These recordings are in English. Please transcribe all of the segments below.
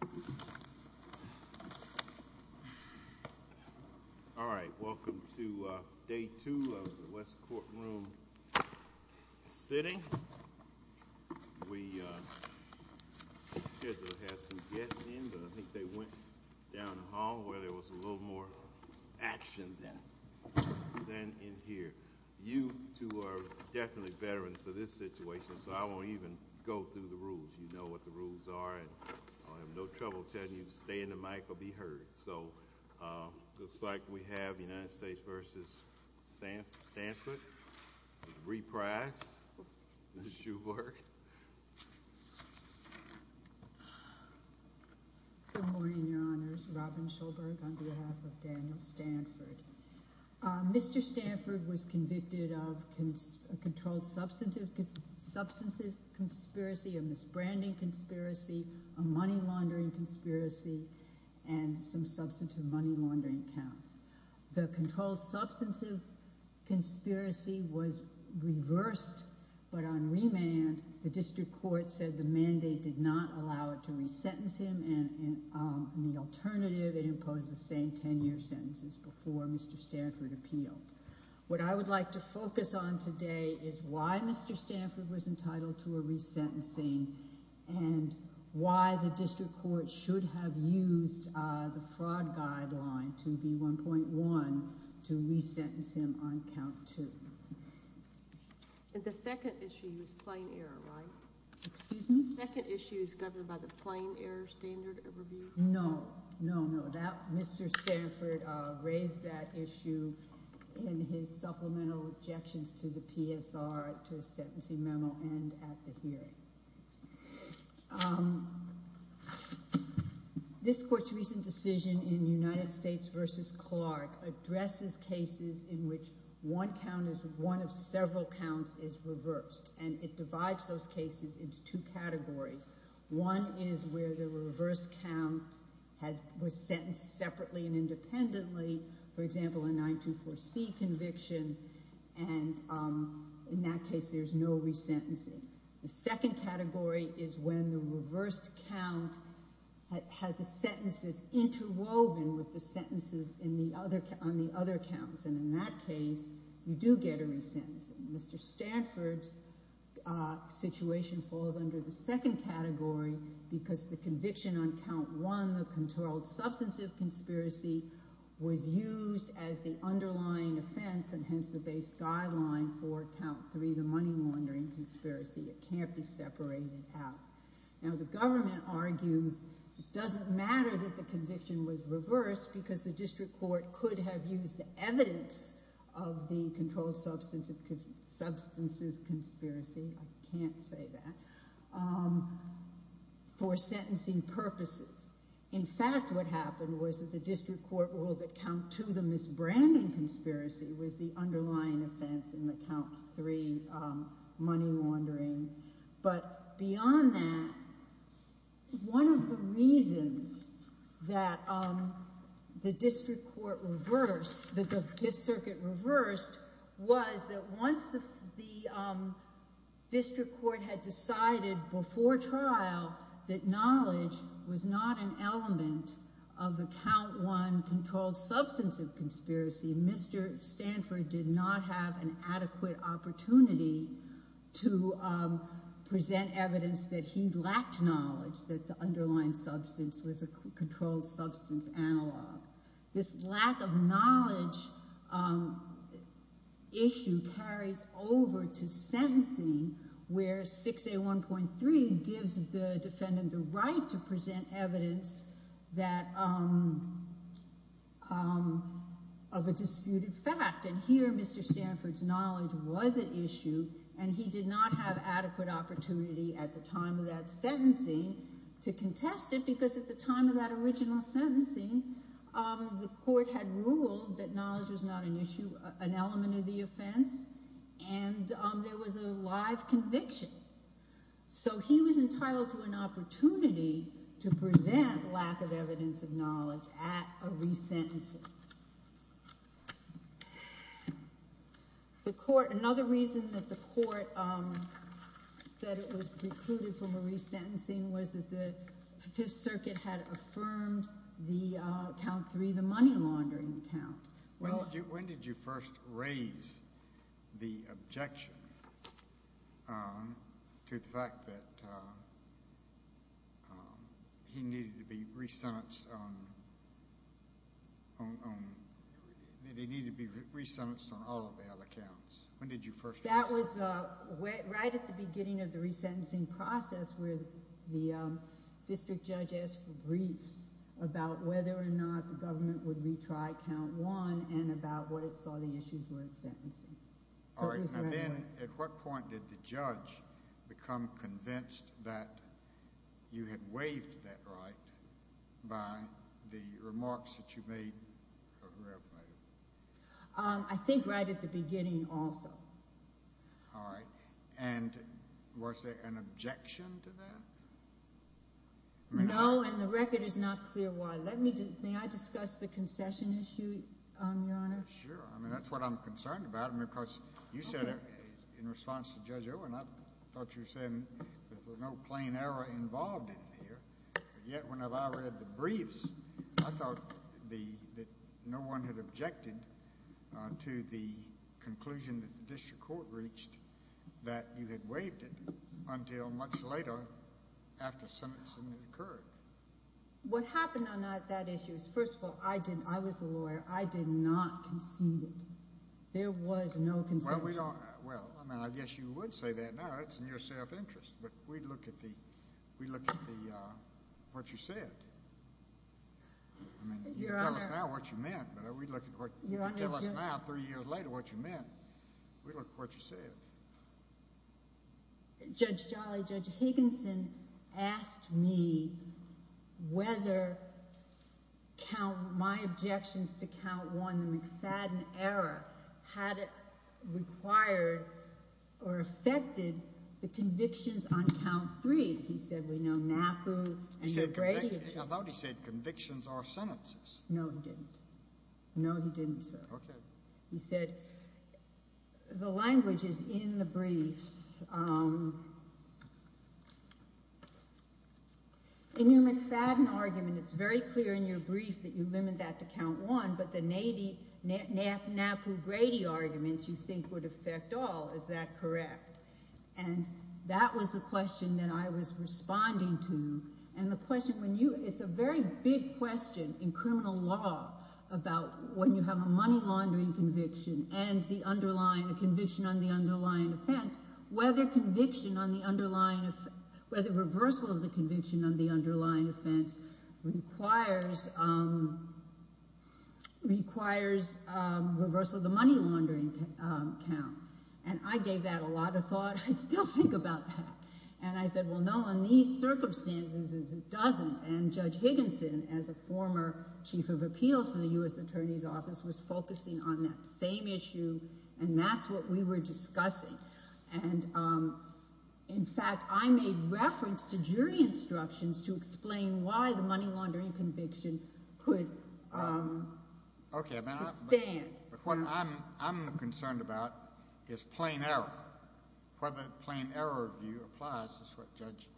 All right. Welcome to day two of the West Courtroom sitting. We had to get in, but I think they went down the hall where there was a little more action than in here. You two are definitely better into this situation, so I won't even go through the rules. You know what the rules are, and I'll have no trouble telling you to stay in the mic or be heard. Looks like we have United States v. Stanford with Brie Price and Ms. Shulberg. Good morning, Your Honors. Robin Shulberg on behalf of Daniel Stanford. Mr. Stanford was convicted of a controlled substances conspiracy, a misbranding conspiracy, a money laundering conspiracy, and some substantive money laundering counts. The controlled substances conspiracy was reversed, but on remand, the district court said the mandate did not allow it to resentence him, and the alternative, it imposed the same ten-year sentences before Mr. Stanford appealed. What I would like to focus on today is why Mr. Stanford was entitled to a resentencing and why the district court should have used the fraud guideline to be 1.1 to resentence him on count two. And the second issue is plain error, right? Excuse me? The second issue is governed by the plain error standard of review? No, no, Mr. Stanford raised that issue in his supplemental objections to the PSR, to his sentencing memo and at the hearing. This court's recent decision in United States v. Clark addresses cases in which one count is one of several counts is reversed, and it divides those cases into two categories. One is where the reversed count was sentenced separately and independently, for example, a 924C conviction, and in that case there's no resentencing. The second category is when the reversed count has the sentences interwoven with the sentences on the other counts, and in that case you do get a resentencing. Mr. Stanford's situation falls under the second category because the conviction on count one, the controlled substance of conspiracy, was used as the underlying offense and hence the base guideline for count three, the money laundering conspiracy. It can't be separated out. Now the government argues it doesn't matter that the conviction was reversed because the district court could have used the evidence of the controlled substances conspiracy, I can't say that, for sentencing purposes. In fact, what happened was that the district court ruled that count two, the misbranding conspiracy, was the underlying offense in the count three money laundering, but beyond that, one of the reasons that the district court reversed, that the Fifth Circuit reversed, was that once the district court had decided before trial that knowledge was not an element of the count one controlled substance of conspiracy, Mr. Stanford did not have an adequate opportunity to present evidence that he lacked knowledge that the underlying substance was a controlled substance analog. This lack of knowledge issue carries over to sentencing where 6A1.3 gives the defendant the right to present evidence of a disputed fact, and here Mr. Stanford's not had adequate opportunity at the time of that sentencing to contest it because at the time of that original sentencing, the court had ruled that knowledge was not an element of the offense, and there was a live conviction. So he was entitled to an opportunity to present lack of evidence of knowledge at a resentencing. Another reason that the court said it was precluded from a resentencing was that the Fifth Circuit had affirmed the count three the money laundering count. When did you first raise the objection to the fact that he needed to be resentenced on all of the other counts? That was right at the beginning of the resentencing process where the district judge asked for and about what it saw the issues were in sentencing. At what point did the judge become convinced that you had waived that right by the remarks that you made? I think right at the beginning also. Was there an objection to that? No, and the record is not clear why. May I discuss the concession issue, Your Honor? Sure. I mean, that's what I'm concerned about because you said in response to Judge Owen, I thought you were saying there's no plain error involved in here, yet when I read the briefs, I thought that no one had objected to the conclusion that the district court had reached that you had waived it until much later after sentencing had occurred. What happened on that issue is, first of all, I was the lawyer. I did not concede it. There was no concession. Well, I mean, I guess you would say that now. It's in your self-interest, but we'd look at what you said. I mean, you can tell us now what you meant, but we'd look at what you said. Judge Jolly, Judge Higginson asked me whether my objections to Count 1, the McFadden error, had it required or affected the convictions on Count 3. He said, we know NAPU and the gradient. I thought he said convictions are sentences. No, he didn't. No, he didn't, sir. He said the language is in the briefs. In your McFadden argument, it's very clear in your brief that you limit that to Count 1, but the NAPU-Grady arguments you think would affect all. Is that correct? And that was the question that I was responding to. It's a very big question in criminal law about when you have a money-laundering conviction and a conviction on the underlying offense, whether reversal of the conviction on the underlying offense requires reversal of the money-laundering count. And I gave that a lot of thought. I still think about that. And I said, well, no, in these circumstances, it doesn't. And Judge Higginson, as a former Chief of Appeals for the U.S. Attorney's Office, was focusing on that same issue, and that's what we were discussing. And in fact, I made reference to jury instructions to explain why the money-laundering conviction could stand. But what I'm concerned about is plain error. Whether plain error view applies is what Judge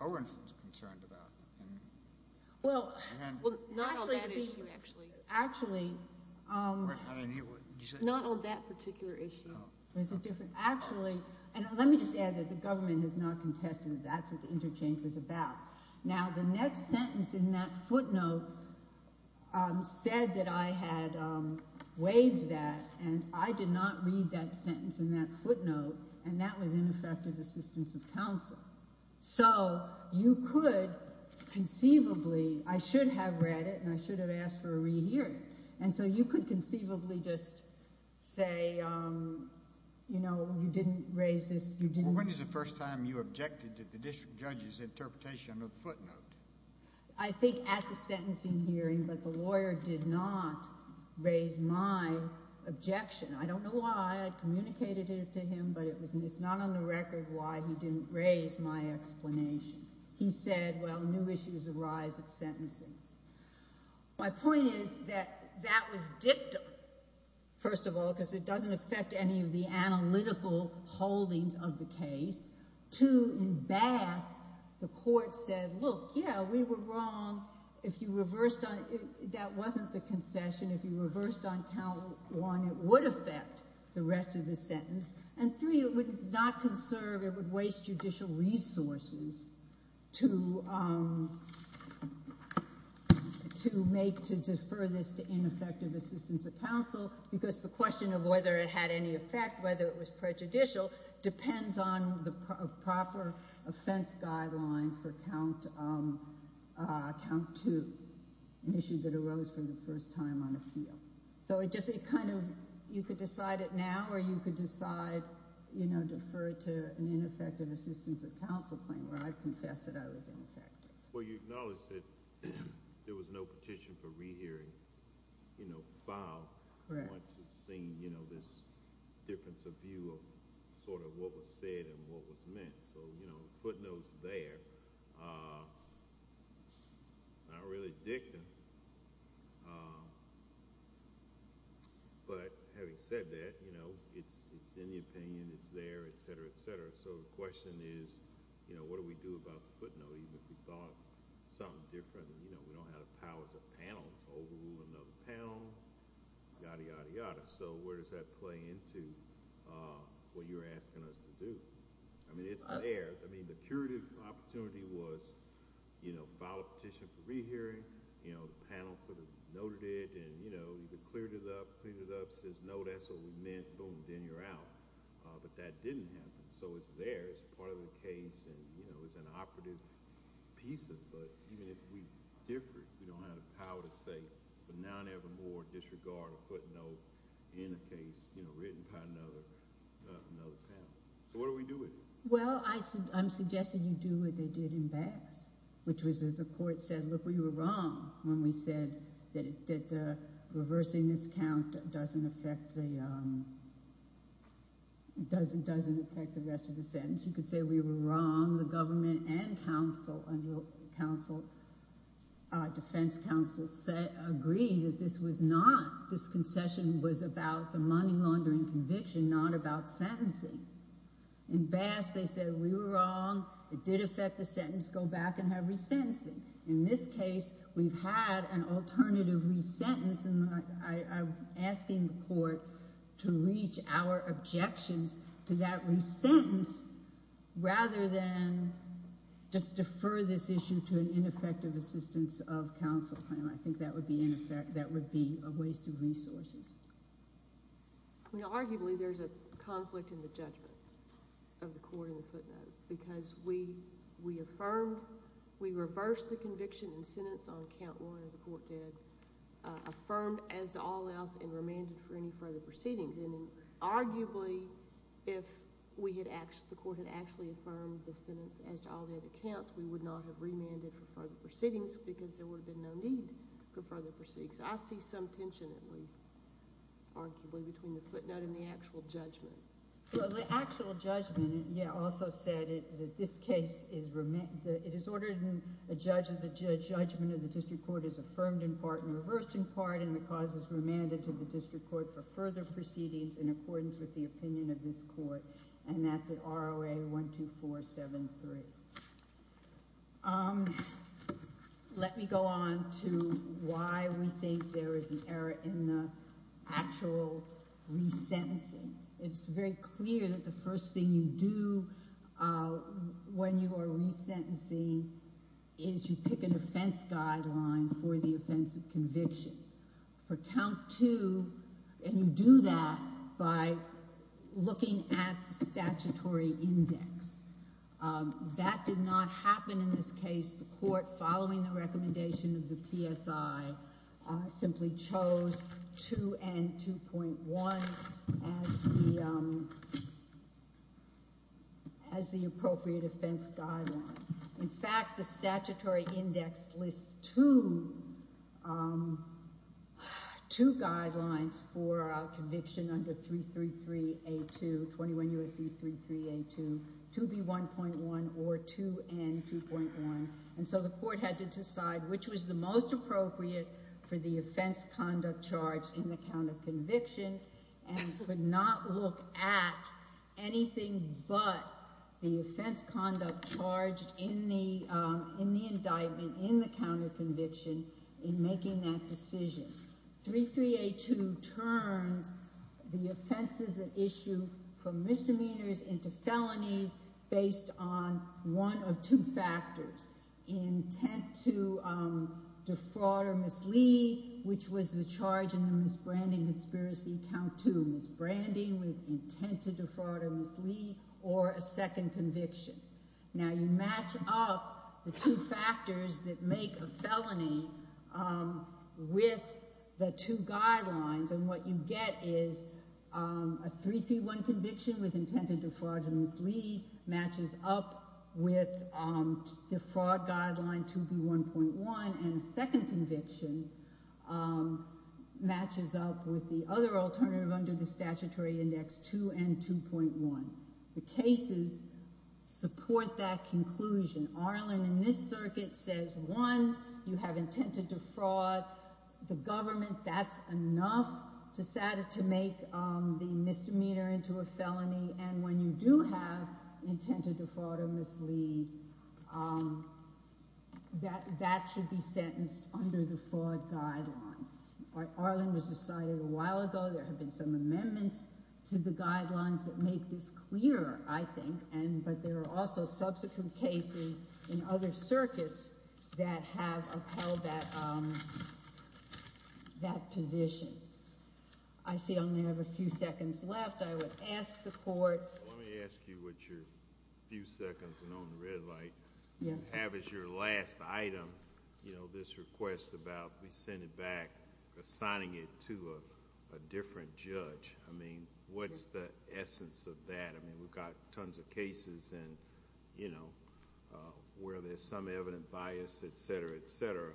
Owens was concerned about. Well, not on that issue, actually. Actually. Not on that particular issue. Actually, and let me just add that the government has not contested that that's what the interchange was about. Now, the next sentence in that footnote said that I had, well, I had the right to waive that, and I did not read that sentence in that footnote, and that was ineffective assistance of counsel. So you could conceivably, I should have read it, and I should have asked for a rehearing. And so you could conceivably just say, you know, you didn't raise this, you didn't Well, when is the first time you objected to the district judge's interpretation of the footnote? I think at the sentencing hearing, but the lawyer did not raise my objection. I don't know why I communicated it to him, but it's not on the record why he didn't raise my explanation. He said, well, new issues arise at sentencing. My point is that that was dictum, first of all, because it doesn't affect any of the analytical holdings of the case. Two, in Bass, the court said, look, yeah, we were wrong. If you reversed on, that wasn't the concession. If you reversed on count one, it would affect the rest of the sentence. And three, it would not conserve, it would waste judicial resources to make, to defer this to ineffective assistance of counsel, because the question of whether it had any effect was not a fenced guideline for count two, an issue that arose for the first time on appeal. So it just, it kind of, you could decide it now, or you could decide, you know, defer it to an ineffective assistance of counsel claim, where I've confessed that I was ineffective. Well, you acknowledged that there was no petition for rehearing, you know, file once you've seen, you know, this difference of view of sort of what was said and what was meant. You know, footnotes there, not really dictum, but having said that, you know, it's in the opinion, it's there, et cetera, et cetera. So the question is, you know, what do we do about the footnote, even if we thought something different, you know, we don't have the powers of panel to overrule another panel, yada, yada, yada. So where does that play into what you're asking us to do? I mean, it's there. I mean, the curative opportunity was, you know, file a petition for rehearing, you know, the panel noted it, and, you know, you could clear it up, clear it up, says, no, that's what we meant, boom, then you're out. But that didn't happen. So it's there, it's part of the case, and, you know, it's an operative piece of, but even if we differ, we don't have the power to say, for now and evermore, to disregard a footnote in a case, you know, written by another panel. So what do we do with it? Well, I'm suggesting you do what they did in Bass, which was that the court said, look, we were wrong when we said that reversing this count doesn't affect the rest of the sentence. You could say we were wrong, the government and counsel, defense counsel agree that this was not, this concession was about the money laundering conviction, not about sentencing. In Bass, they said we were wrong, it did affect the sentence, go back and have resentencing. In this case, we've had an alternative resentence, and I'm asking the court to reach our objections to that resentence rather than just defer this issue to an ineffective assistance of counsel panel. I think that would be a waste of resources. Arguably, there's a conflict in the judgment of the court in the footnote, because we affirmed, we reversed the conviction and sentence on count one of the court dead, affirmed as to all else, and remanded for any further proceedings. And arguably, if the court had actually affirmed the sentence as to all dead accounts, we would not have remanded for further proceedings, because there would have been no need for further proceedings. I see some tension, at least, arguably, between the footnote and the actual judgment. Well, the actual judgment also said that this case is, it is ordered, the judgment of the district court is affirmed in part and reversed in part, and the cause is remanded to the district court on count one, two, four, seven, three. Let me go on to why we think there is an error in the actual resentencing. It's very clear that the first thing you do when you are resentencing is you pick an offense guideline for the offense of conviction. For count two, and you do that by looking at the statutory index, which is two and 2.6. That did not happen in this case. The court, following the recommendation of the PSI, simply chose two and 2.1 as the appropriate offense guideline. In fact, the statutory index lists two guidelines for conviction under 333A2, 21 U.S.C. 33A2, and 2.6. 2B1.1 or 2N2.1, and so the court had to decide which was the most appropriate for the offense conduct charge in the count of conviction, and could not look at anything but the offense conduct charge in the indictment, in the count of conviction, in making that decision. 33A2 turns the offenses at issue from misdemeanors into felonies, and the offense conduct charge based on one of two factors, intent to defraud or mislead, which was the charge in the misbranding conspiracy count two, misbranding with intent to defraud or mislead, or a second conviction. Now, you match up the two factors that make a felony with the two guidelines, and what you get is a 3331 conviction with intent to defraud or mislead matches up with the fraud guideline 2B1.1, and a second conviction matches up with the other alternative under the statutory index 2N2.1. The cases support that conclusion. Arlen in this circuit says, one, you have intent to defraud the government. That's enough to make the misdemeanor into a felony, and when you do have intent to defraud or mislead, that should be sentenced under the fraud guideline. Arlen was decided a while ago. There have been some amendments to the guidelines that make this clearer, I think, but there are also subsequent cases in other states that have been denied that position. I see I only have a few seconds left. I would ask the court. Let me ask you what your few seconds are on the red light. You have as your last item this request about we send it back assigning it to a different judge. What's the essence of that? We've got tons of cases where there's some evident bias, et cetera, et cetera.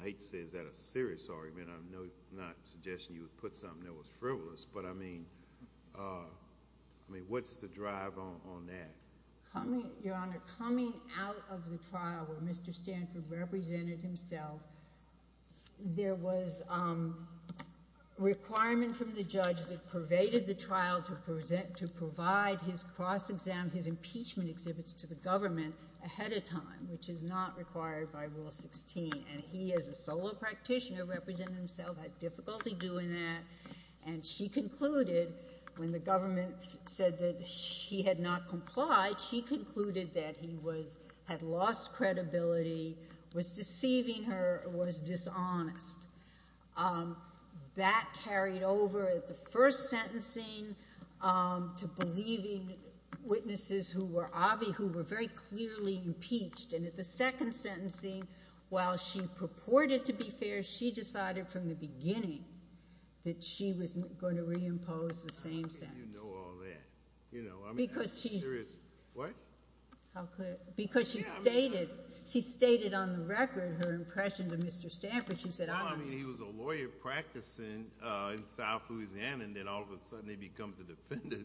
I hate to say is that a serious argument? I'm not suggesting you would put something that was frivolous. What's the drive on that? Your Honor, coming out of the trial where Mr. Stanford represented himself, there was a requirement from the judge that pervaded the trial to provide his cross-exam, his testimony to the government ahead of time, which is not required by Rule 16. And he, as a solo practitioner, represented himself, had difficulty doing that, and she concluded when the government said that she had not complied, she concluded that he had lost credibility, was deceiving her, was dishonest. That carried over at the first sentencing to believing witnesses who were obvi, who were very clearly impeached. And at the second sentencing, while she purported to be fair, she decided from the beginning that she was going to reimpose the same sentence. I don't think you know all that. You know, I mean, that's serious. What? Because she stated, she stated on the record her impression to Mr. Stanford. She said, well, I mean, he was a lawyer practicing in South Louisiana, and then all of a sudden he becomes a defendant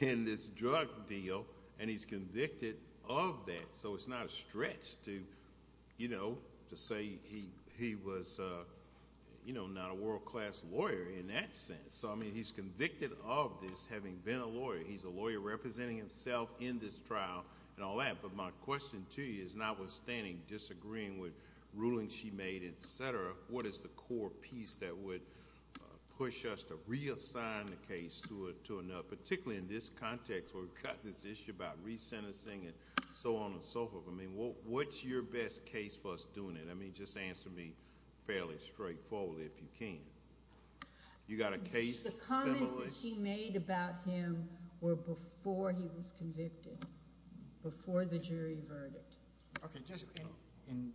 in this drug deal, and he's convicted of that. So it's not a stretch to, you know, to say he was, you know, not a world-class lawyer in that sense. So, I mean, he's convicted of this, having been a lawyer. He's a lawyer representing himself in this trial and all that. But my question to you is, notwithstanding disagreeing with rulings she made, et cetera, what are the core pieces that would push us to reassign the case to another, particularly in this context where we've got this issue about resentencing and so on and so forth. I mean, what's your best case for us doing it? I mean, just answer me fairly straightforwardly if you can. You got a case? The comments that she made about him were before he was convicted, before the jury verdict. Okay, just in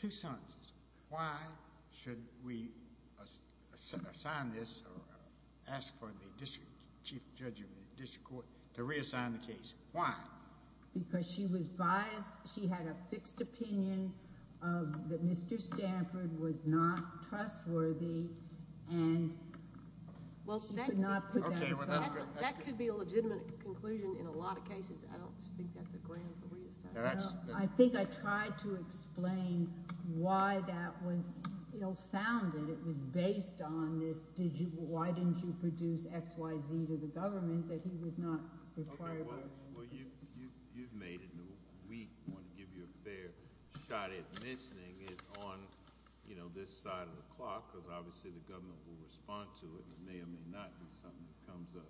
two sentences. Why should we assign this or ask for the district chief judge of the district court to reassign the case? Why? Because she was biased. She had a fixed opinion that Mr. Stanford was not trustworthy, and she could not put that aside. That could be a legitimate conclusion in a lot of cases. I don't think that's a ground for reassignment. I think I tried to explain why that was ill-founded. It was based on this, why didn't you produce XYZ to the government, that he was not required. Well, you've made it into a week. I want to give you a fair shot at mentioning it on this side of the clock, because obviously the government will respond to it. It may or may not be something that comes up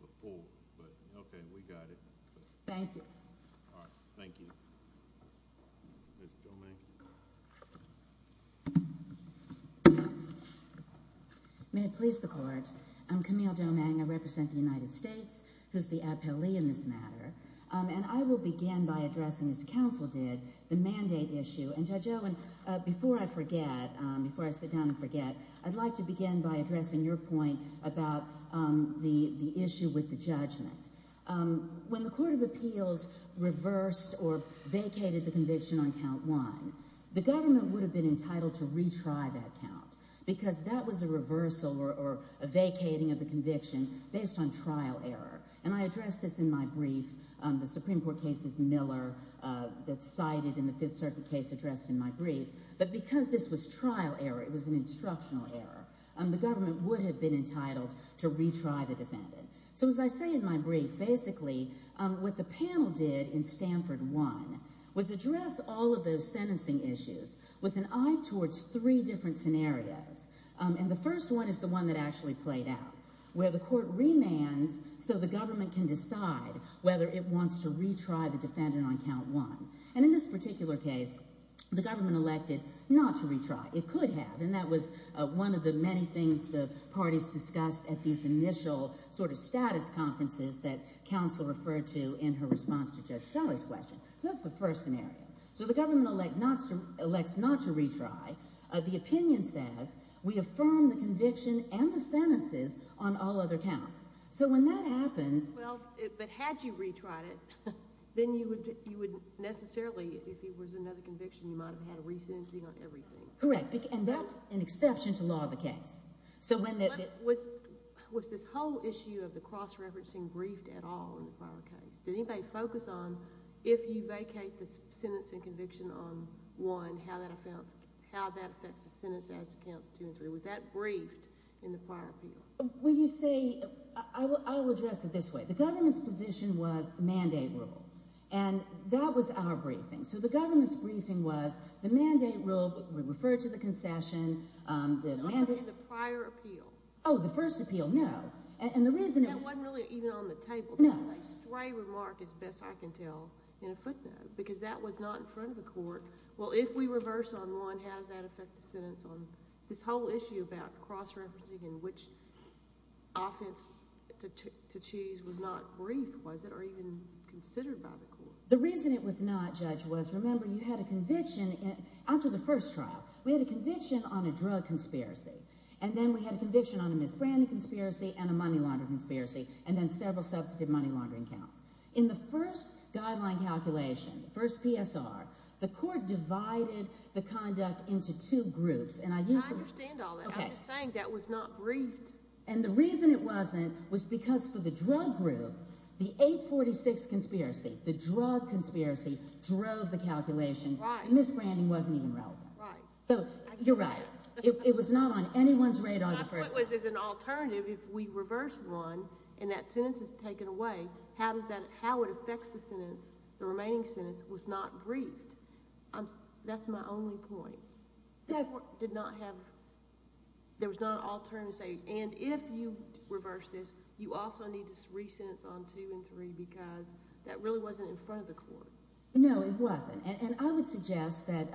before. But okay, we got it. Thank you. May it please the court. I'm Camille Domingue. I represent the United States, who's the appellee in this matter. And I will begin by addressing, as counsel did, the mandate issue. And Judge Owen, before I forget, before I sit down and forget, I'd like to begin by addressing your point about the issue with the judgment. When the Court of Appeals reversed or vacated the conviction on count one, the government would have been entitled to retry that count, because that was a reversal or a vacating of the conviction based on trial error. And I addressed this in my brief, the Supreme Court cases, Miller, that's cited in the Fifth Circuit case addressed in my brief. But because this was trial error, it was an instructional error, the government would have been entitled to retry the defendant. So as I say in my brief, basically what the panel did in Stanford one was address all of those sentencing issues with an eye towards three different scenarios. And the first one is the one that actually played out, where the court remands so the government can decide whether it wants to retry the defendant on count one. And in this particular case, the government elected not to retry. It could have. And that was one of the many things the parties discussed at these initial sort of status conferences that counsel referred to in her response to Judge Charlie's question. So that's the first scenario. So the government elects not to retry. The opinion says, we affirm the conviction and the sentences on all other counts. So when that happens... Well, but had you retried it, then you would necessarily, if it was another conviction, you might have had a re-sentencing on everything. Correct. And that's an exception to law of the case. Was this whole issue of the cross-referencing briefed at all in the prior case? Did anybody focus on, if you vacate the sentence and conviction on one, how that affects the sentence as to counts two and three? Was that briefed in the prior appeal? Well, you see, I will address it this way. The government's position was the mandate rule. And that was our briefing. So the government's briefing was the mandate rule, we referred to the concession... In the prior appeal. Oh, the first appeal, no. That wasn't really even on the table. A stray remark, as best I can tell, in a footnote, because that was not in front of the court. Well, if we reverse on one, how does that affect the sentence on this whole issue about cross-referencing and which offense to choose was not briefed, was it, or even considered by the court? The reason it was not, Judge, was, remember, you had a conviction after the first trial. We had a conviction on a drug conspiracy, and then we had a conviction on a misbranding conspiracy and a money laundering conspiracy, and then several substantive money laundering counts. In the first guideline calculation, the first PSR, the court divided the conduct into two groups. I understand all that. I'm just saying that was not briefed. And the reason it wasn't was because for the drug group, the 846 conspiracy, the drug conspiracy, drove the calculation. Misbranding wasn't even relevant. You're right. It was not on anyone's radar the first time. My point was, as an alternative, if we reverse one and that sentence is taken away, how it affects the remaining sentence was not briefed. That's my only point. The court did not have, there was not an alternative to say, and if you reverse this, you also need to re-sentence on two and three, because that really wasn't in front of the court. No, it wasn't, and I would suggest that,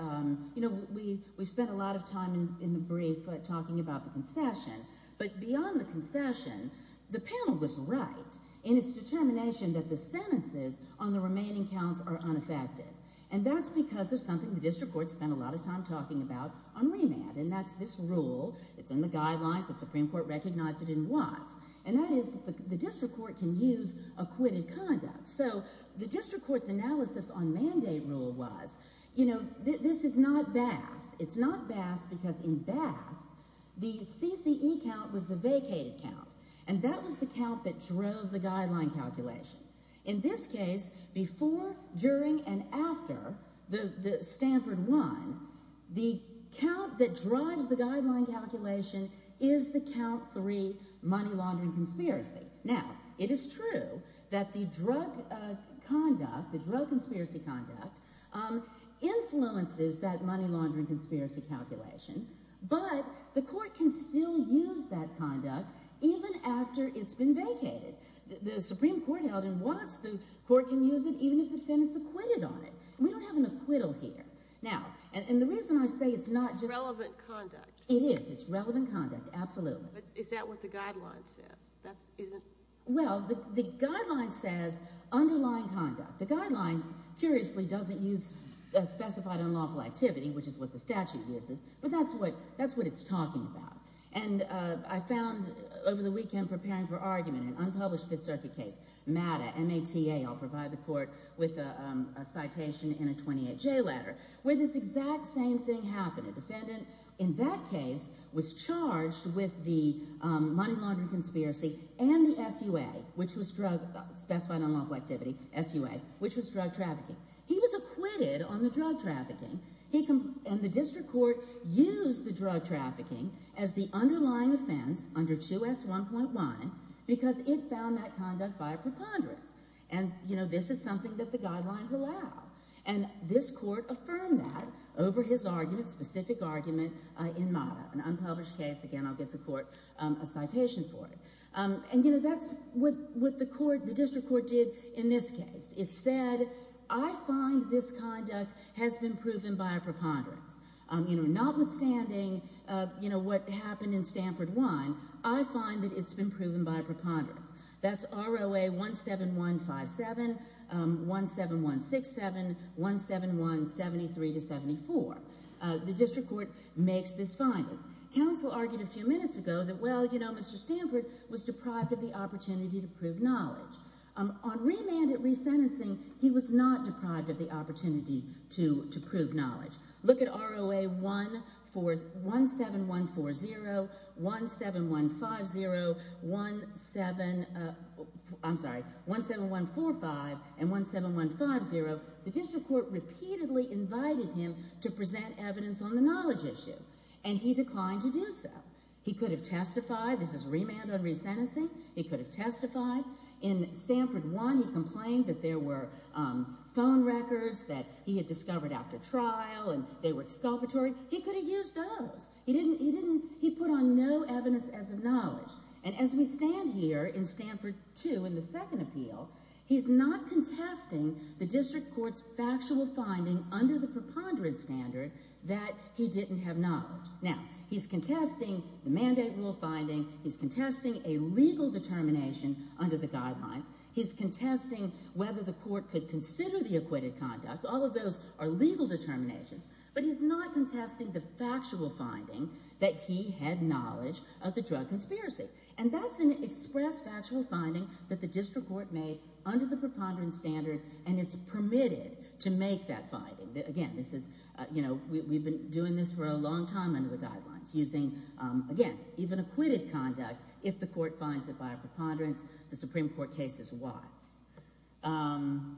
you know, we spent a lot of time in the brief talking about the concession, but beyond the concession, the panel was right in its determination that the sentences on the remaining counts are unaffected. And that's because of something the district court spent a lot of time talking about on remand, and that's this rule. It's in the guidelines. The Supreme Court recognized it in Watts. And that is the district court can use acquitted conduct. So the district court's analysis on mandate rule was, you know, this is not Bass. It's not Bass because in Bass, the CCE count was the vacated count, and that was the count that drove the guideline calculation. In this case, before, during, and after Stanford won, the count that drives the guideline calculation is the count three, money laundering conspiracy. Now, it is true that the drug conduct, the drug conspiracy conduct, influences that money laundering conspiracy calculation, but the court can still use that conduct even after it's been vacated. The Supreme Court held in Watts, the court can use it even if defendants acquitted on it. We don't have an acquittal here. Now, and the reason I say it's not just... It's relevant conduct. It is. It's relevant conduct. Absolutely. But is that what the guideline says? Well, the guideline says underlying conduct. The guideline, curiously, doesn't use specified unlawful activity, which is what the statute uses, but that's what it's talking about. And I found, over the weekend, preparing for argument in an unpublished Fifth Circuit case, MATA, M-A-T-A, I'll provide the court with a citation in a 28J letter, where this exact same thing happened. The defendant, in that case, was charged with the money laundering conspiracy and the SUA, which was drug, specified unlawful activity, SUA, which was drug trafficking. He was acquitted on the drug trafficking. And the district court used the drug trafficking as the underlying offense under 2S1.1 because it found that conduct by a preponderance. And, you know, this is something that the guidelines allow. And this court affirmed that over his argument, specific argument, in MATA, an unpublished case. Again, I'll get the court a citation for it. And, you know, that's what the court, the district court did in this case. It said, I find this conduct has been proven by a preponderance. You know, notwithstanding, you know, what happened in Stanford 1, I find that it's been proven by a preponderance. That's ROA 17157, 17167, 17173-74. The district court makes this finding. Counsel argued a few minutes ago that, well, you know, Mr. Stanford was deprived of the opportunity to prove knowledge. On remanded resentencing, he was not deprived of the opportunity to prove knowledge. Look at ROA 17140, 17150, 17, I'm sorry, 17145 and 17150. The district court repeatedly invited him to present evidence on the knowledge issue. And he declined to do so. He could have testified. This is remanded on resentencing. He could have testified. In Stanford 1, he complained that there were phone records that he had discovered after trial and they were exculpatory. He could have used those. He put on no evidence as of knowledge. And as we stand here in Stanford 2, in the second appeal, he's not contesting the district court's factual finding under the preponderance standard that he didn't have knowledge. Now, he's contesting the mandate rule finding. He's contesting a legal determination under the guidelines. He's contesting whether the court could consider the acquitted conduct. All of those are legal determinations. But he's not contesting the factual finding that he had knowledge of the drug conspiracy. And that's an express factual finding that the district court made under the preponderance standard and it's permitted to make that finding. Again, this is, you know, we've been doing this for a long time under the guidelines using, again, even acquitted conduct if the court finds it by a preponderance. The Supreme Court case is wise. Well,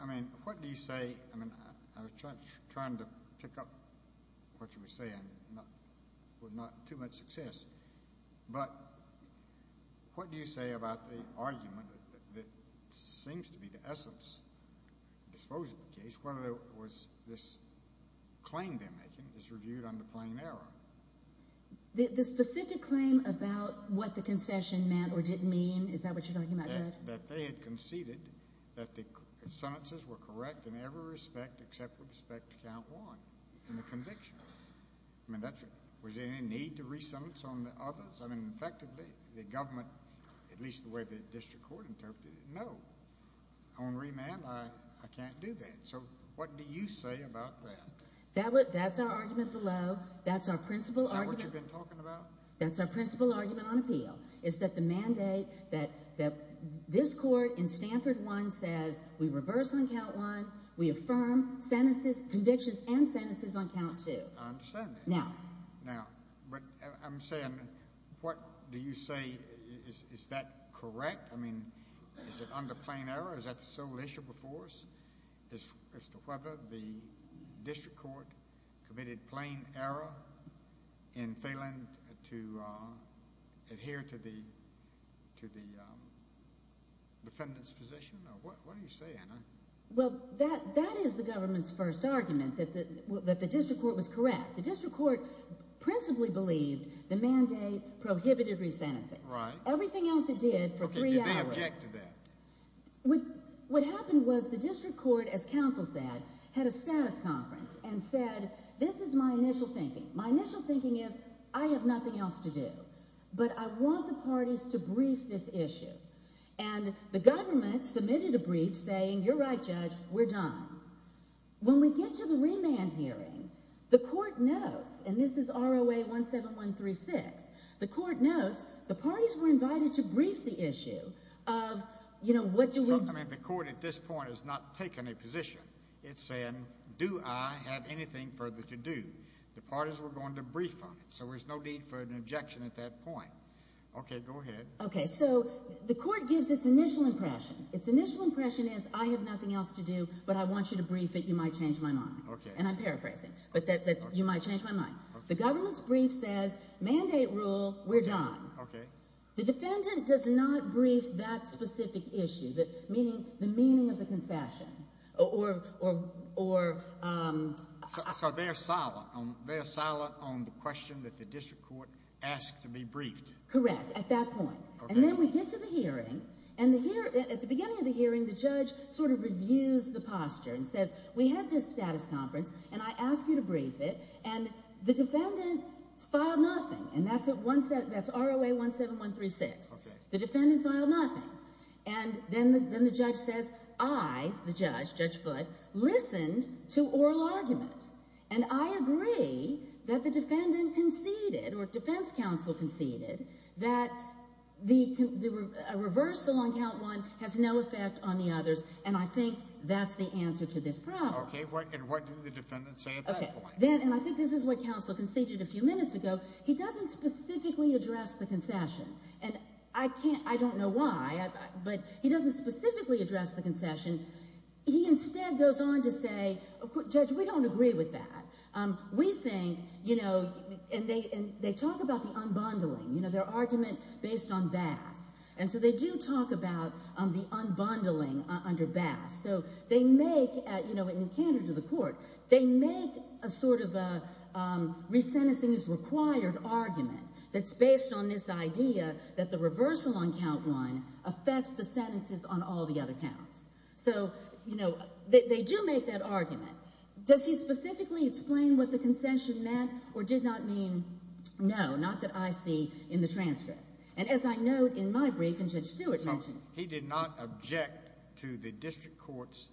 I mean, what do you say? I mean, I was trying to pick up what you were saying with not too much success. But what do you say about the argument that seems to be the essence of the disclosure case, whether it was this claim they're making is reviewed under plain error? The specific claim about what the concession meant or didn't mean, is that what you're talking about, Judge? That they had conceded that the sentences were correct in every respect except with respect to count one in the conviction. I mean, was there any need to re-sentence on the others? I mean, effectively, the government, at least the way the district court interpreted it, no. On remand, I can't do that. So what do you say about that? That's our argument below. That's our principal argument. Is that what you've been talking about? That's our principal argument on appeal. It's that the mandate that this court in Stanford 1 says we reverse on count 1, we affirm convictions and sentences on count 2. I understand that. Now. Now. But I'm saying, what do you say, is that correct? I mean, is it under plain error? Is that the sole issue before us? As to whether the district court committed plain error in failing to adhere to the defendant's position? What do you say, Anna? Well, that is the government's first argument, that the district court was correct. The district court principally believed the mandate prohibited re-sentencing. Right. Everything else it did for three hours. Did they object to that? What happened was the district court, as counsel said, had a status conference and said, this is my initial thinking. My initial thinking is, I have nothing else to do, but I want the parties to brief this issue. And the government submitted a brief saying, you're right, Judge, we're done. When we get to the remand hearing, the court notes, and this is ROA 17136, the court notes, the parties were invited to brief the issue of, you know, what do we do? I mean, the court at this point has not taken a position. It's saying, do I have anything further to do? The parties were going to brief on it, so there's no need for an objection at that point. Okay, go ahead. Okay, so the court gives its initial impression. Its initial impression is, I have nothing else to do, but I want you to brief it, you might change my mind. Okay. And I'm paraphrasing, but that you might change my mind. Okay. The government's brief says, mandate rule, we're done. Okay. The defendant does not brief that specific issue, meaning the meaning of the concession, or So they're silent on the question that the district court asked to be briefed. Correct, at that point. Okay. And then we get to the hearing, and at the beginning of the hearing, the judge sort of reviews the posture and says, we have this status conference, and I ask you to brief it. And the defendant filed nothing, and that's ROA 17136. Okay. The defendant filed nothing. And then the judge says, I, the judge, Judge Foote, listened to oral argument, and I agree that the defendant conceded, or defense counsel conceded, that the reversal on count one has no effect on the others, and I think that's the answer to this problem. Okay, and what do the defendants say at that point? Then, and I think this is what counsel conceded a few minutes ago, he doesn't specifically address the concession, and I can't, I don't know why, but he doesn't specifically address the concession. He instead goes on to say, Judge, we don't agree with that. We think, you know, and they talk about the unbundling, you know, their argument based on Bass, and so they do talk about the unbundling under Bass. So they make, you know, in encounter to the court, they make a sort of a resentencing is required argument that's based on this idea that the reversal on count one affects the sentences on all the other counts. So, you know, they do make that argument. Does he specifically explain what the concession meant, or did not mean, no, not that I see in the transcript? And as I note in my brief, and Judge Stewart mentioned it. He did not object to the district court's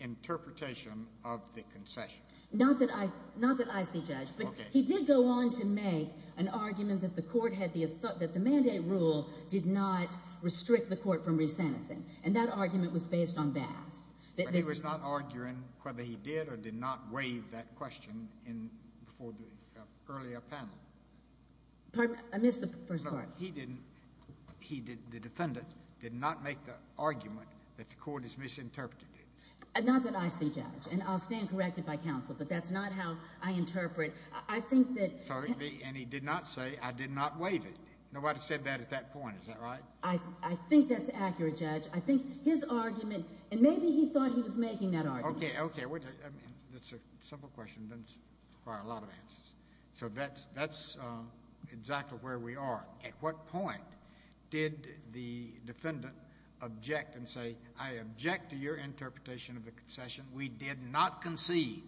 interpretation of the concession. Not that I, not that I see, Judge, but he did go on to make an argument that the court had the, that the mandate rule did not restrict the court from resentencing, and that argument was based on Bass. But he was not arguing whether he did or did not waive that question in, before the earlier panel. Pardon me, I missed the first part. He didn't, he did, the defendant did not make the argument that the court has misinterpreted it. Not that I see, Judge. And I'll stand corrected by counsel, but that's not how I interpret. I think that. Pardon me, and he did not say, I did not waive it. Nobody said that at that point, is that right? I, I think that's accurate, Judge. I think his argument, and maybe he thought he was making that argument. Okay, okay. I mean, that's a simple question, doesn't require a lot of answers. So that's, that's exactly where we are. At what point did the defendant object and say, I object to your interpretation of the concession, we did not concede.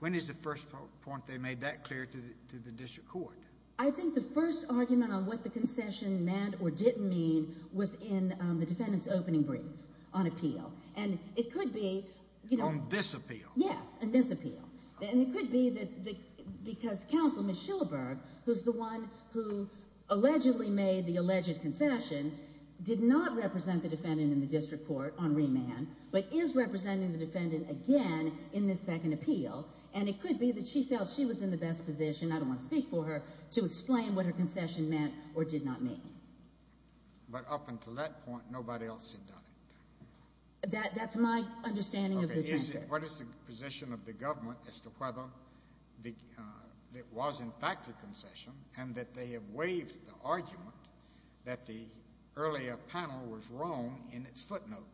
When is the first point they made that clear to the, to the district court? I think the first argument on what the concession meant or didn't mean was in the defendant's opening brief on appeal. And it could be, you know. On this appeal. Yes, on this appeal. And it could be that, because counsel, Ms. Schillerberg, who's the one who allegedly made the alleged concession, did not represent the defendant in the district court on remand, but is representing the defendant again in this second appeal. And it could be that she felt she was in the best position, I don't want to speak for her, to explain what her concession meant or did not mean. But up until that point, nobody else had done it. That, that's my understanding of the district. What is the position of the government as to whether it was in fact a concession and that they have waived the argument that the earlier panel was wrong in its footnote?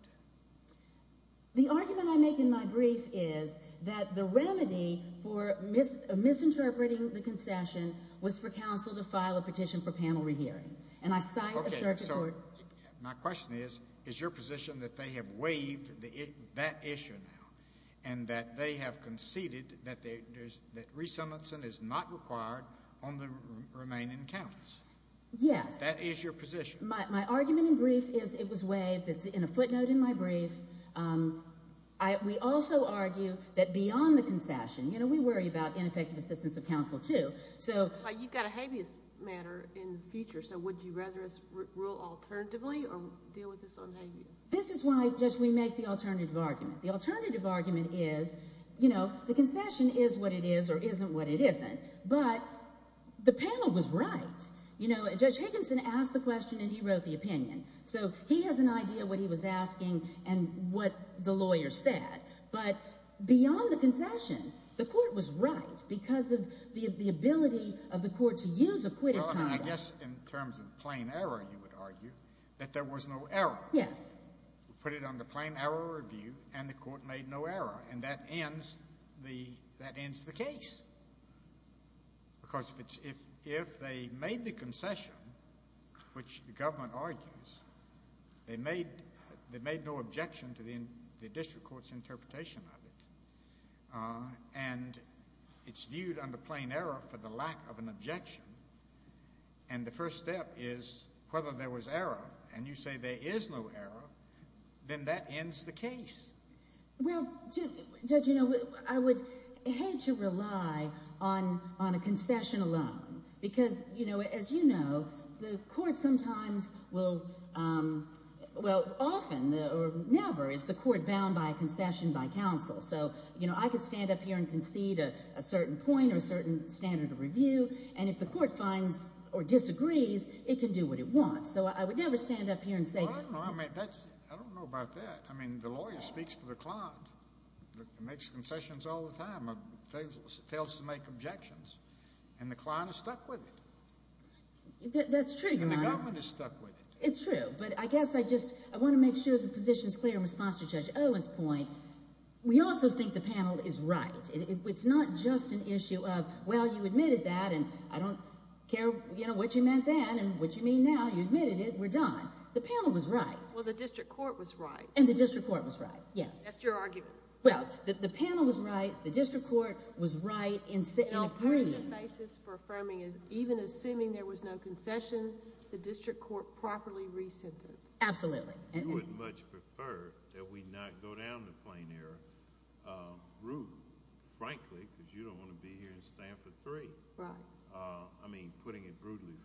The argument I make in my brief is that the remedy for misinterpreting the concession was for counsel to file a petition for panel rehearing. And I cite a circuit court. My question is, is your position that they have waived that issue now? And that they have conceded that resentment is not required on the remaining counts? Yes. That is your position? My argument in brief is it was waived. It's in a footnote in my brief. We also argue that beyond the concession, you know, we worry about ineffective assistance of counsel, too. But you've got a habeas matter in the future, so would you rather us rule alternatively or deal with this on habeas? This is why, Judge, we make the alternative argument. The alternative argument is, you know, the concession is what it is or isn't what it isn't. But the panel was right. You know, Judge Higginson asked the question and he wrote the opinion. So he has an idea of what he was asking and what the lawyer said. But beyond the concession, the court was right because of the ability of the court to use acquitted conduct. Well, I mean, I guess in terms of plain error, you would argue that there was no error. Yes. We put it under plain error review and the court made no error. And that ends the case. Because if they made the concession, which the government argues, they made no objection to the district court's interpretation of it. And it's viewed under plain error for the lack of an objection. And the first step is whether there was error. And you say there is no error. Then that ends the case. Well, Judge, you know, I would hate to rely on a concession alone. Because, you know, as you know, the court sometimes will, well, often or never is the court bound by a concession by counsel. So, you know, I could stand up here and concede a certain point or a certain standard of review. And if the court finds or disagrees, it can do what it wants. So I would never stand up here and say. I don't know about that. I mean, the lawyer speaks for the client. Makes concessions all the time. Fails to make objections. And the client is stuck with it. That's true, Your Honor. And the government is stuck with it. It's true. But I guess I just want to make sure the position is clear in response to Judge Owen's point. We also think the panel is right. It's not just an issue of, well, you admitted that and I don't care, you know, what you meant then and what you mean now. You admitted it. We're done. The panel was right. Well, the district court was right. And the district court was right. Yes. That's your argument. Well, the panel was right. The district court was right. And a permanent basis for affirming is even assuming there was no concession, the district court properly re-sentenced. Absolutely. You would much prefer that we not go down the plain air, rude, frankly, because you don't want to be here and stand for three. Right. I mean, putting it rudely,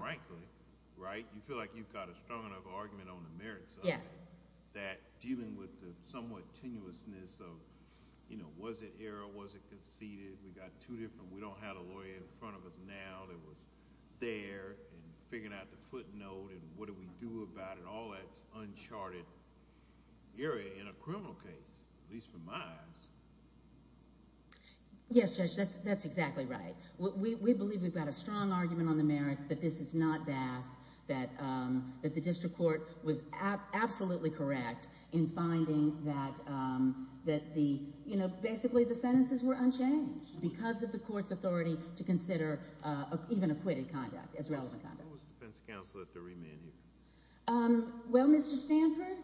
frankly, right? You feel like you've got a strong enough argument on the merits of it. Yes. That dealing with the somewhat tenuousness of, you know, was it error? Was it conceded? We got two different... We don't have a lawyer in front of us now that was there and figuring out the footnote and what do we do about it. All that's uncharted area in a criminal case, at least for my eyes. Yes, Judge. That's exactly right. We believe we've got a strong argument on the merits that this is not vast, that the district court was absolutely correct in finding that the, you know, basically the sentences were unchanged because of the court's authority to consider even acquitted conduct as relevant conduct. What was the defense counsel at the re-maneuver? Well, Mr. Stanford,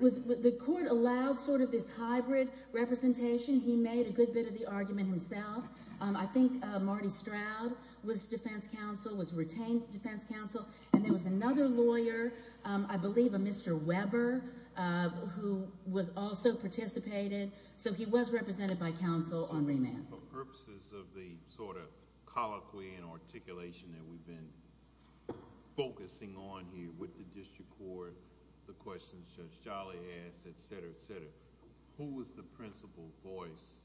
the court allowed sort of this hybrid representation. He made a good bit of the argument himself. I think Marty Stroud was defense counsel, was retained defense counsel, and there was another lawyer, I believe a Mr. Weber, who was also participated. So he was represented by counsel on re-man. For purposes of the sort of colloquy and articulation that we've been focusing on here with the district court, the questions Judge Charlie asked, et cetera, et cetera, who was the principal voice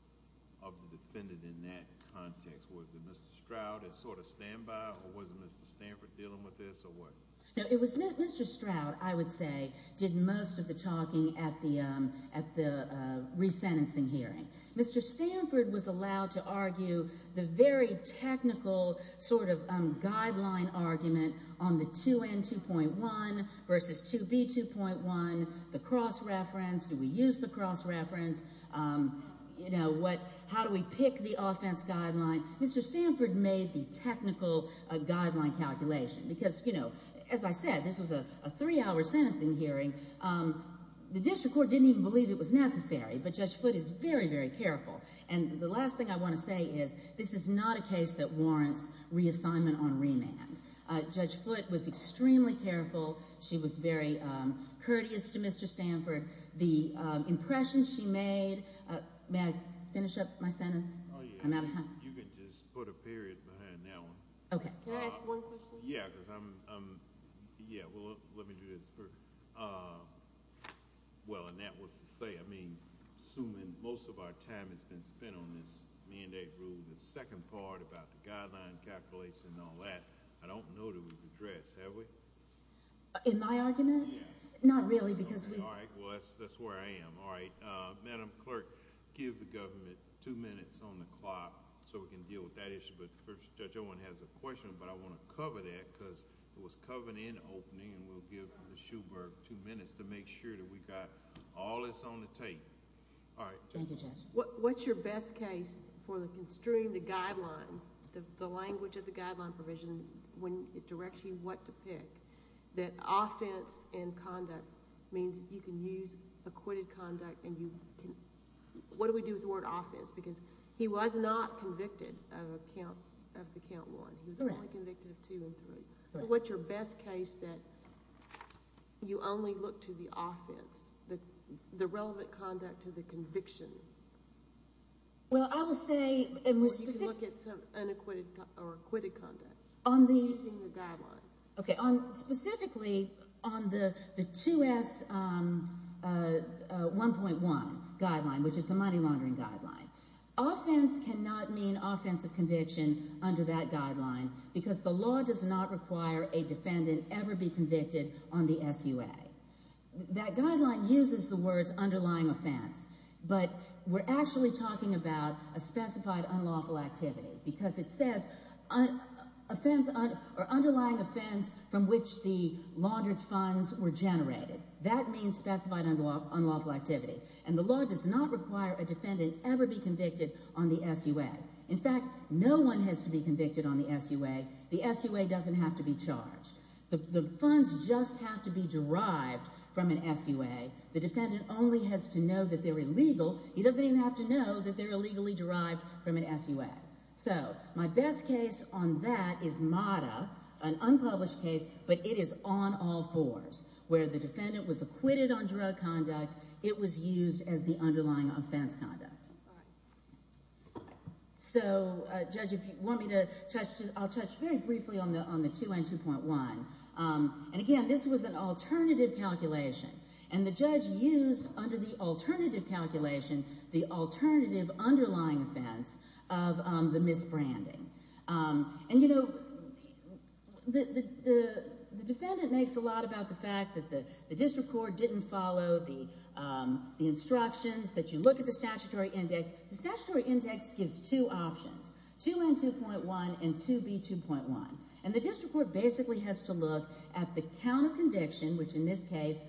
of the defendant in that context? Was it Mr. Stroud at sort of standby, or was it Mr. Stanford dealing with this, or what? No, it was Mr. Stroud, I would say, did most of the talking at the re-sentencing hearing. Mr. Stanford was allowed to argue the very technical sort of guideline argument on the 2N2.1 versus 2B2.1, the cross-reference. Do we use the cross-reference? How do we pick the offense guideline? Mr. Stanford made the technical guideline calculation, because as I said, this was a three-hour sentencing hearing. The district court didn't even believe it was necessary, but Judge Foote is very, very careful. And the last thing I want to say is, this is not a case that warrants reassignment on re-man. Judge Foote was extremely careful. She was very courteous to Mr. Stanford. The impression she made... May I finish up my sentence? Oh, yeah. I'm out of time. You can just put a period behind that one. Okay. Can I ask one question? Yeah, because I'm... Yeah, well, let me do this first. Well, and that was to say, I mean, assuming most of our time has been spent on this mandate rule, the second part about the guideline calculation and all that, I don't know that it was addressed, have we? In my argument? Not really, because we... All right. Well, that's where I am. All right. Madam Clerk, give the government two minutes on the clock so we can deal with that issue. But Judge Owen has a question, but I want to cover that because it was covered in the opening, and we'll give Ms. Schubert two minutes to make sure that we've got all this on the tape. All right. Thank you, Judge. What's your best case for construing the guideline, the language of the guideline provision, when it directs you what to pick, that offense and conduct means you can use acquitted conduct and you can... What do we do with the word offense? Because he was not convicted of the count one. He was only convicted of two and three. What's your best case that you only look to the offense, the relevant conduct to the conviction? Well, I will say... Or you can look at some unacquitted or acquitted conduct. On the... In the guideline. Okay. Specifically, on the 2S1.1 guideline, which is the money-laundering guideline, offense cannot mean offensive conviction under that guideline because the law does not require a defendant ever be convicted on the SUA. That guideline uses the words underlying offense, but we're actually talking about a specified unlawful activity because it says underlying offense from which the laundered funds were generated. That means specified unlawful activity. And the law does not require a defendant ever be convicted on the SUA. In fact, no one has to be convicted on the SUA. The SUA doesn't have to be charged. The funds just have to be derived from an SUA. The defendant only has to know that they're illegal. He doesn't even have to know that they're illegally derived from an SUA. So, my best case on that is MATA, an unpublished case, but it is on all fours where the defendant was acquitted on drug conduct. It was used as the underlying offense conduct. So, Judge, if you want me to touch... I'll touch very briefly on the 2N2.1. And again, this was an alternative calculation. And the judge used, under the alternative calculation, the alternative underlying offense of the misbranding. And, you know, the defendant makes a lot about the fact that the district court didn't follow the instructions that you look at the statutory index. The statutory index gives two options, 2N2.1 and 2B2.1. And the district court basically has to look at the count of conviction, which in this case,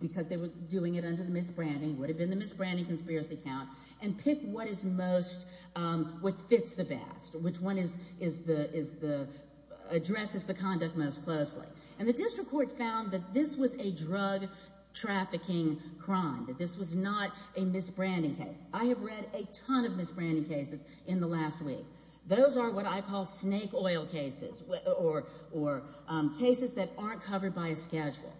because they were doing it under the misbranding, would have been the misbranding conspiracy count, and pick what fits the best, which one addresses the conduct most closely. And the district court found that this was a drug trafficking crime, that this was not a misbranding case. I have read a ton of misbranding cases in the last week. Those are what I call snake oil cases or cases that aren't covered by a schedule.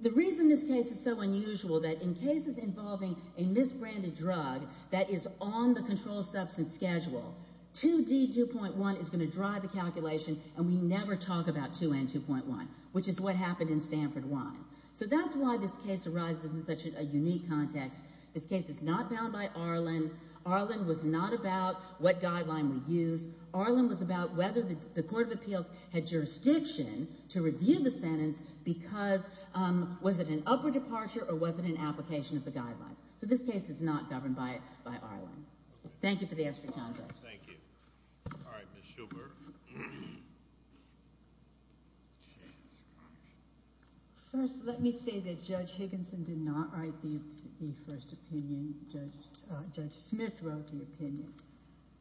The reason this case is so unusual is that in cases involving a misbranded drug that is on the controlled substance schedule, 2D2.1 is going to drive the calculation, and we never talk about 2N2.1, which is what happened in Stanford 1. So that's why this case arises in such a unique context. This case is not bound by Arlen. Arlen was not about what guideline we use. Arlen was about whether the court of appeals had jurisdiction to review the sentence because was it an upper departure or was it an application of the guidelines? So this case is not governed by Arlen. Thank you for the extra time, Judge. Thank you. All right, Ms. Shulberg. First, let me say that Judge Higginson did not write the first opinion. Judge Smith wrote the opinion.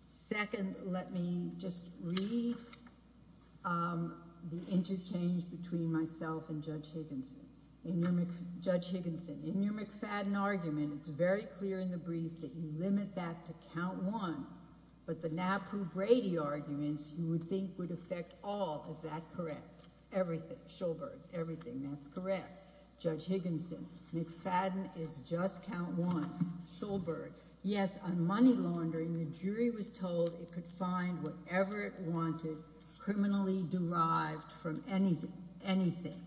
Second, let me just read the interchange between myself and Judge Higginson. Judge Higginson, in your McFadden argument, it's very clear in the brief that you limit that to count one, but the Napu-Brady arguments you would think would affect all. Is that correct? Everything. Shulberg, everything. That's correct. Judge Higginson, McFadden is just count one. Shulberg, yes, on money laundering, the jury was told it could find whatever it wanted criminally derived from anything. Anything.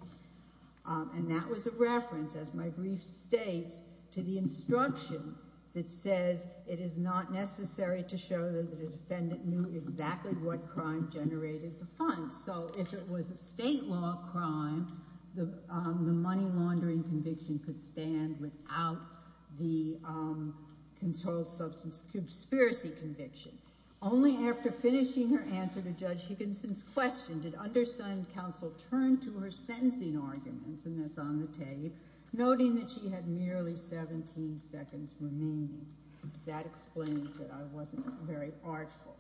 And that was a reference, as my brief states, to the instruction that says it is not necessary to show that the defendant knew exactly what crime generated the funds. So if it was a state law crime, the money laundering conviction could stand without the conspiracy conviction. Only after finishing her answer to Judge Higginson's question did undersigned counsel turn to her sentencing arguments, and that's on the tape, noting that she had merely 17 seconds remaining. That explains that I wasn't very artful.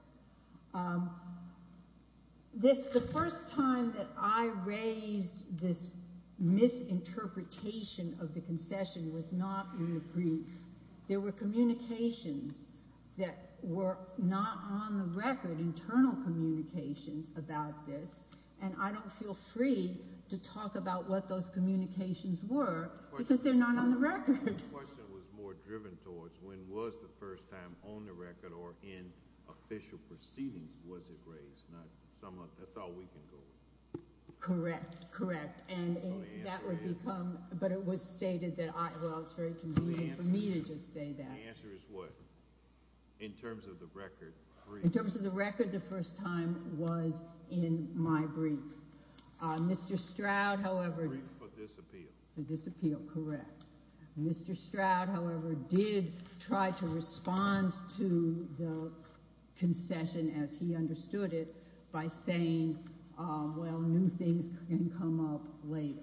The first time that I raised this misinterpretation of the concession was not in the brief. There were communications that were not on the record, internal communications about this, and I don't feel free to talk about what those communications were because they're not on the record. The question was more driven towards when was the first time on the record or in official proceedings was it raised? That's all we can go with. Correct, correct. And that would become, but it was stated that, well, it's very convenient for me to just say that. The answer is what? In terms of the record brief? In terms of the record, the first time was in my brief. Mr. Stroud, however... The brief for this appeal. For this appeal, correct. Mr. Stroud, however, did try to respond to the concession as he understood it by saying, well, new things can come up later.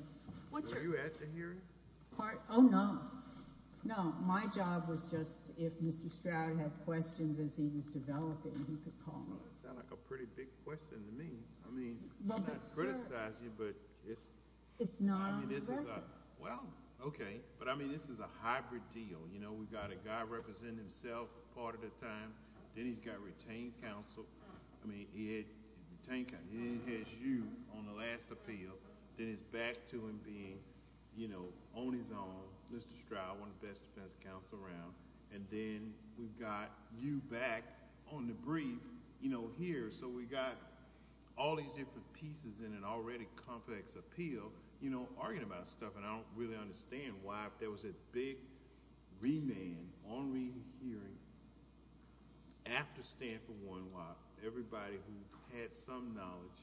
Were you at the hearing? Oh, no. No, my job was just if Mr. Stroud had questions as he was developing, he could call me. Well, that sounds like a pretty big question to me. I mean, I'm not criticizing you, but it's... It's not on the record. Well, okay. But, I mean, this is a hybrid deal. You know, we've got a guy representing himself part of the time. Then he's got retained counsel. I mean, he had retained counsel. Then he has you on the last appeal. Then it's back to him being, you know, on his own. Mr. Stroud, one of the best defense counsel around. And then, we've got you back on the brief, you know, here. So, we've got all these different pieces in an already complex appeal, you know, arguing about stuff. And I don't really understand why there was a big remand on re-hearing after Stanford-1, why everybody who had some knowledge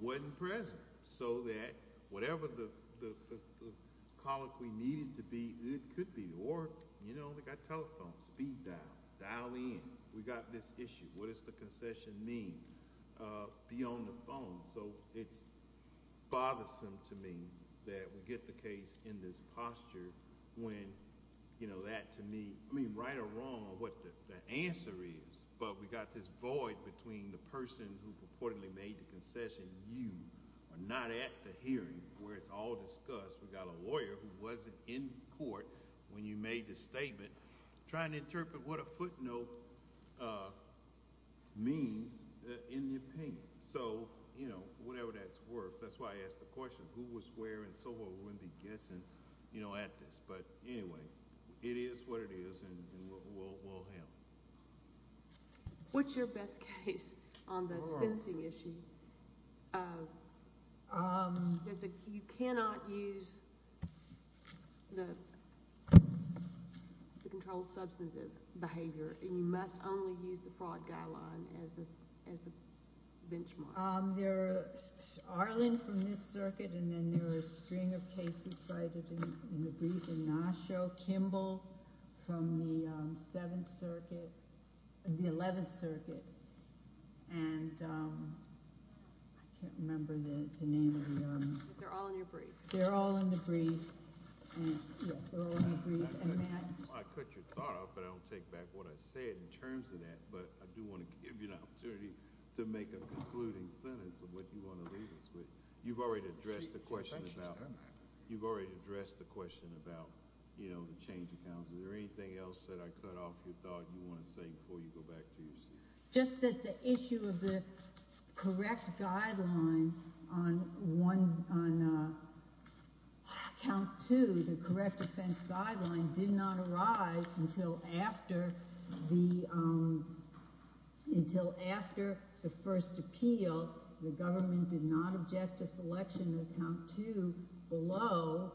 wasn't present. So that, whatever the issue be, it could be. Or, you know, they've got telephones. Speed dial. Dial in. We've got this issue. What does the concession mean? Be on the phone. So, it's bothersome to me that we get the case in this posture when, you know, that, to me, I mean, right or wrong what the answer is. But we've got this void between the person who purportedly made the concession, you, are not at the hearing where it's all discussed. We've got a lawyer who wasn't in court when you made the statement trying to interpret what a footnote means in the opinion. So, you know, whatever that's worth. That's why I asked the question who was where and so what would we be guessing you know, at this. But, anyway, it is what it is and we'll handle it. What's your best case on the fencing issue? That you cannot use the the controlled substantive behavior and you must only use the fraud guideline as the, as the benchmark. There are Arlen from this circuit and then there are a string of cases cited in the brief and Nasho, Kimball from the 7th circuit, the 11th circuit and I can't remember the name of the um They're all in your brief. They're all in the brief and yes, they're all in the brief and Matt I cut your thought off but I don't take back what I said in terms of that but I do want to give you an opportunity to make a concluding sentence of what you want to leave us with. You've already addressed the question about You've already addressed the question about you know, the change of counsel. Is there anything else that I cut off your thought you want to say before you go back to your seat? Just that the issue of the correct guideline on one on count two the correct offense guideline did not arise until after the um until after the first appeal the government did not object to selection of count two below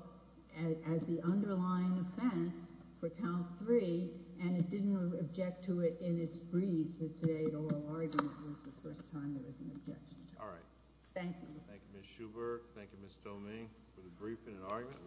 as the underlying offense for count three and it didn't object to it in its brief for today's oral argument was the first time there was an objection to it. All right. Thank you. Thank you, Ms. Schubert. Thank you, Ms. Domingue for the briefing and argument.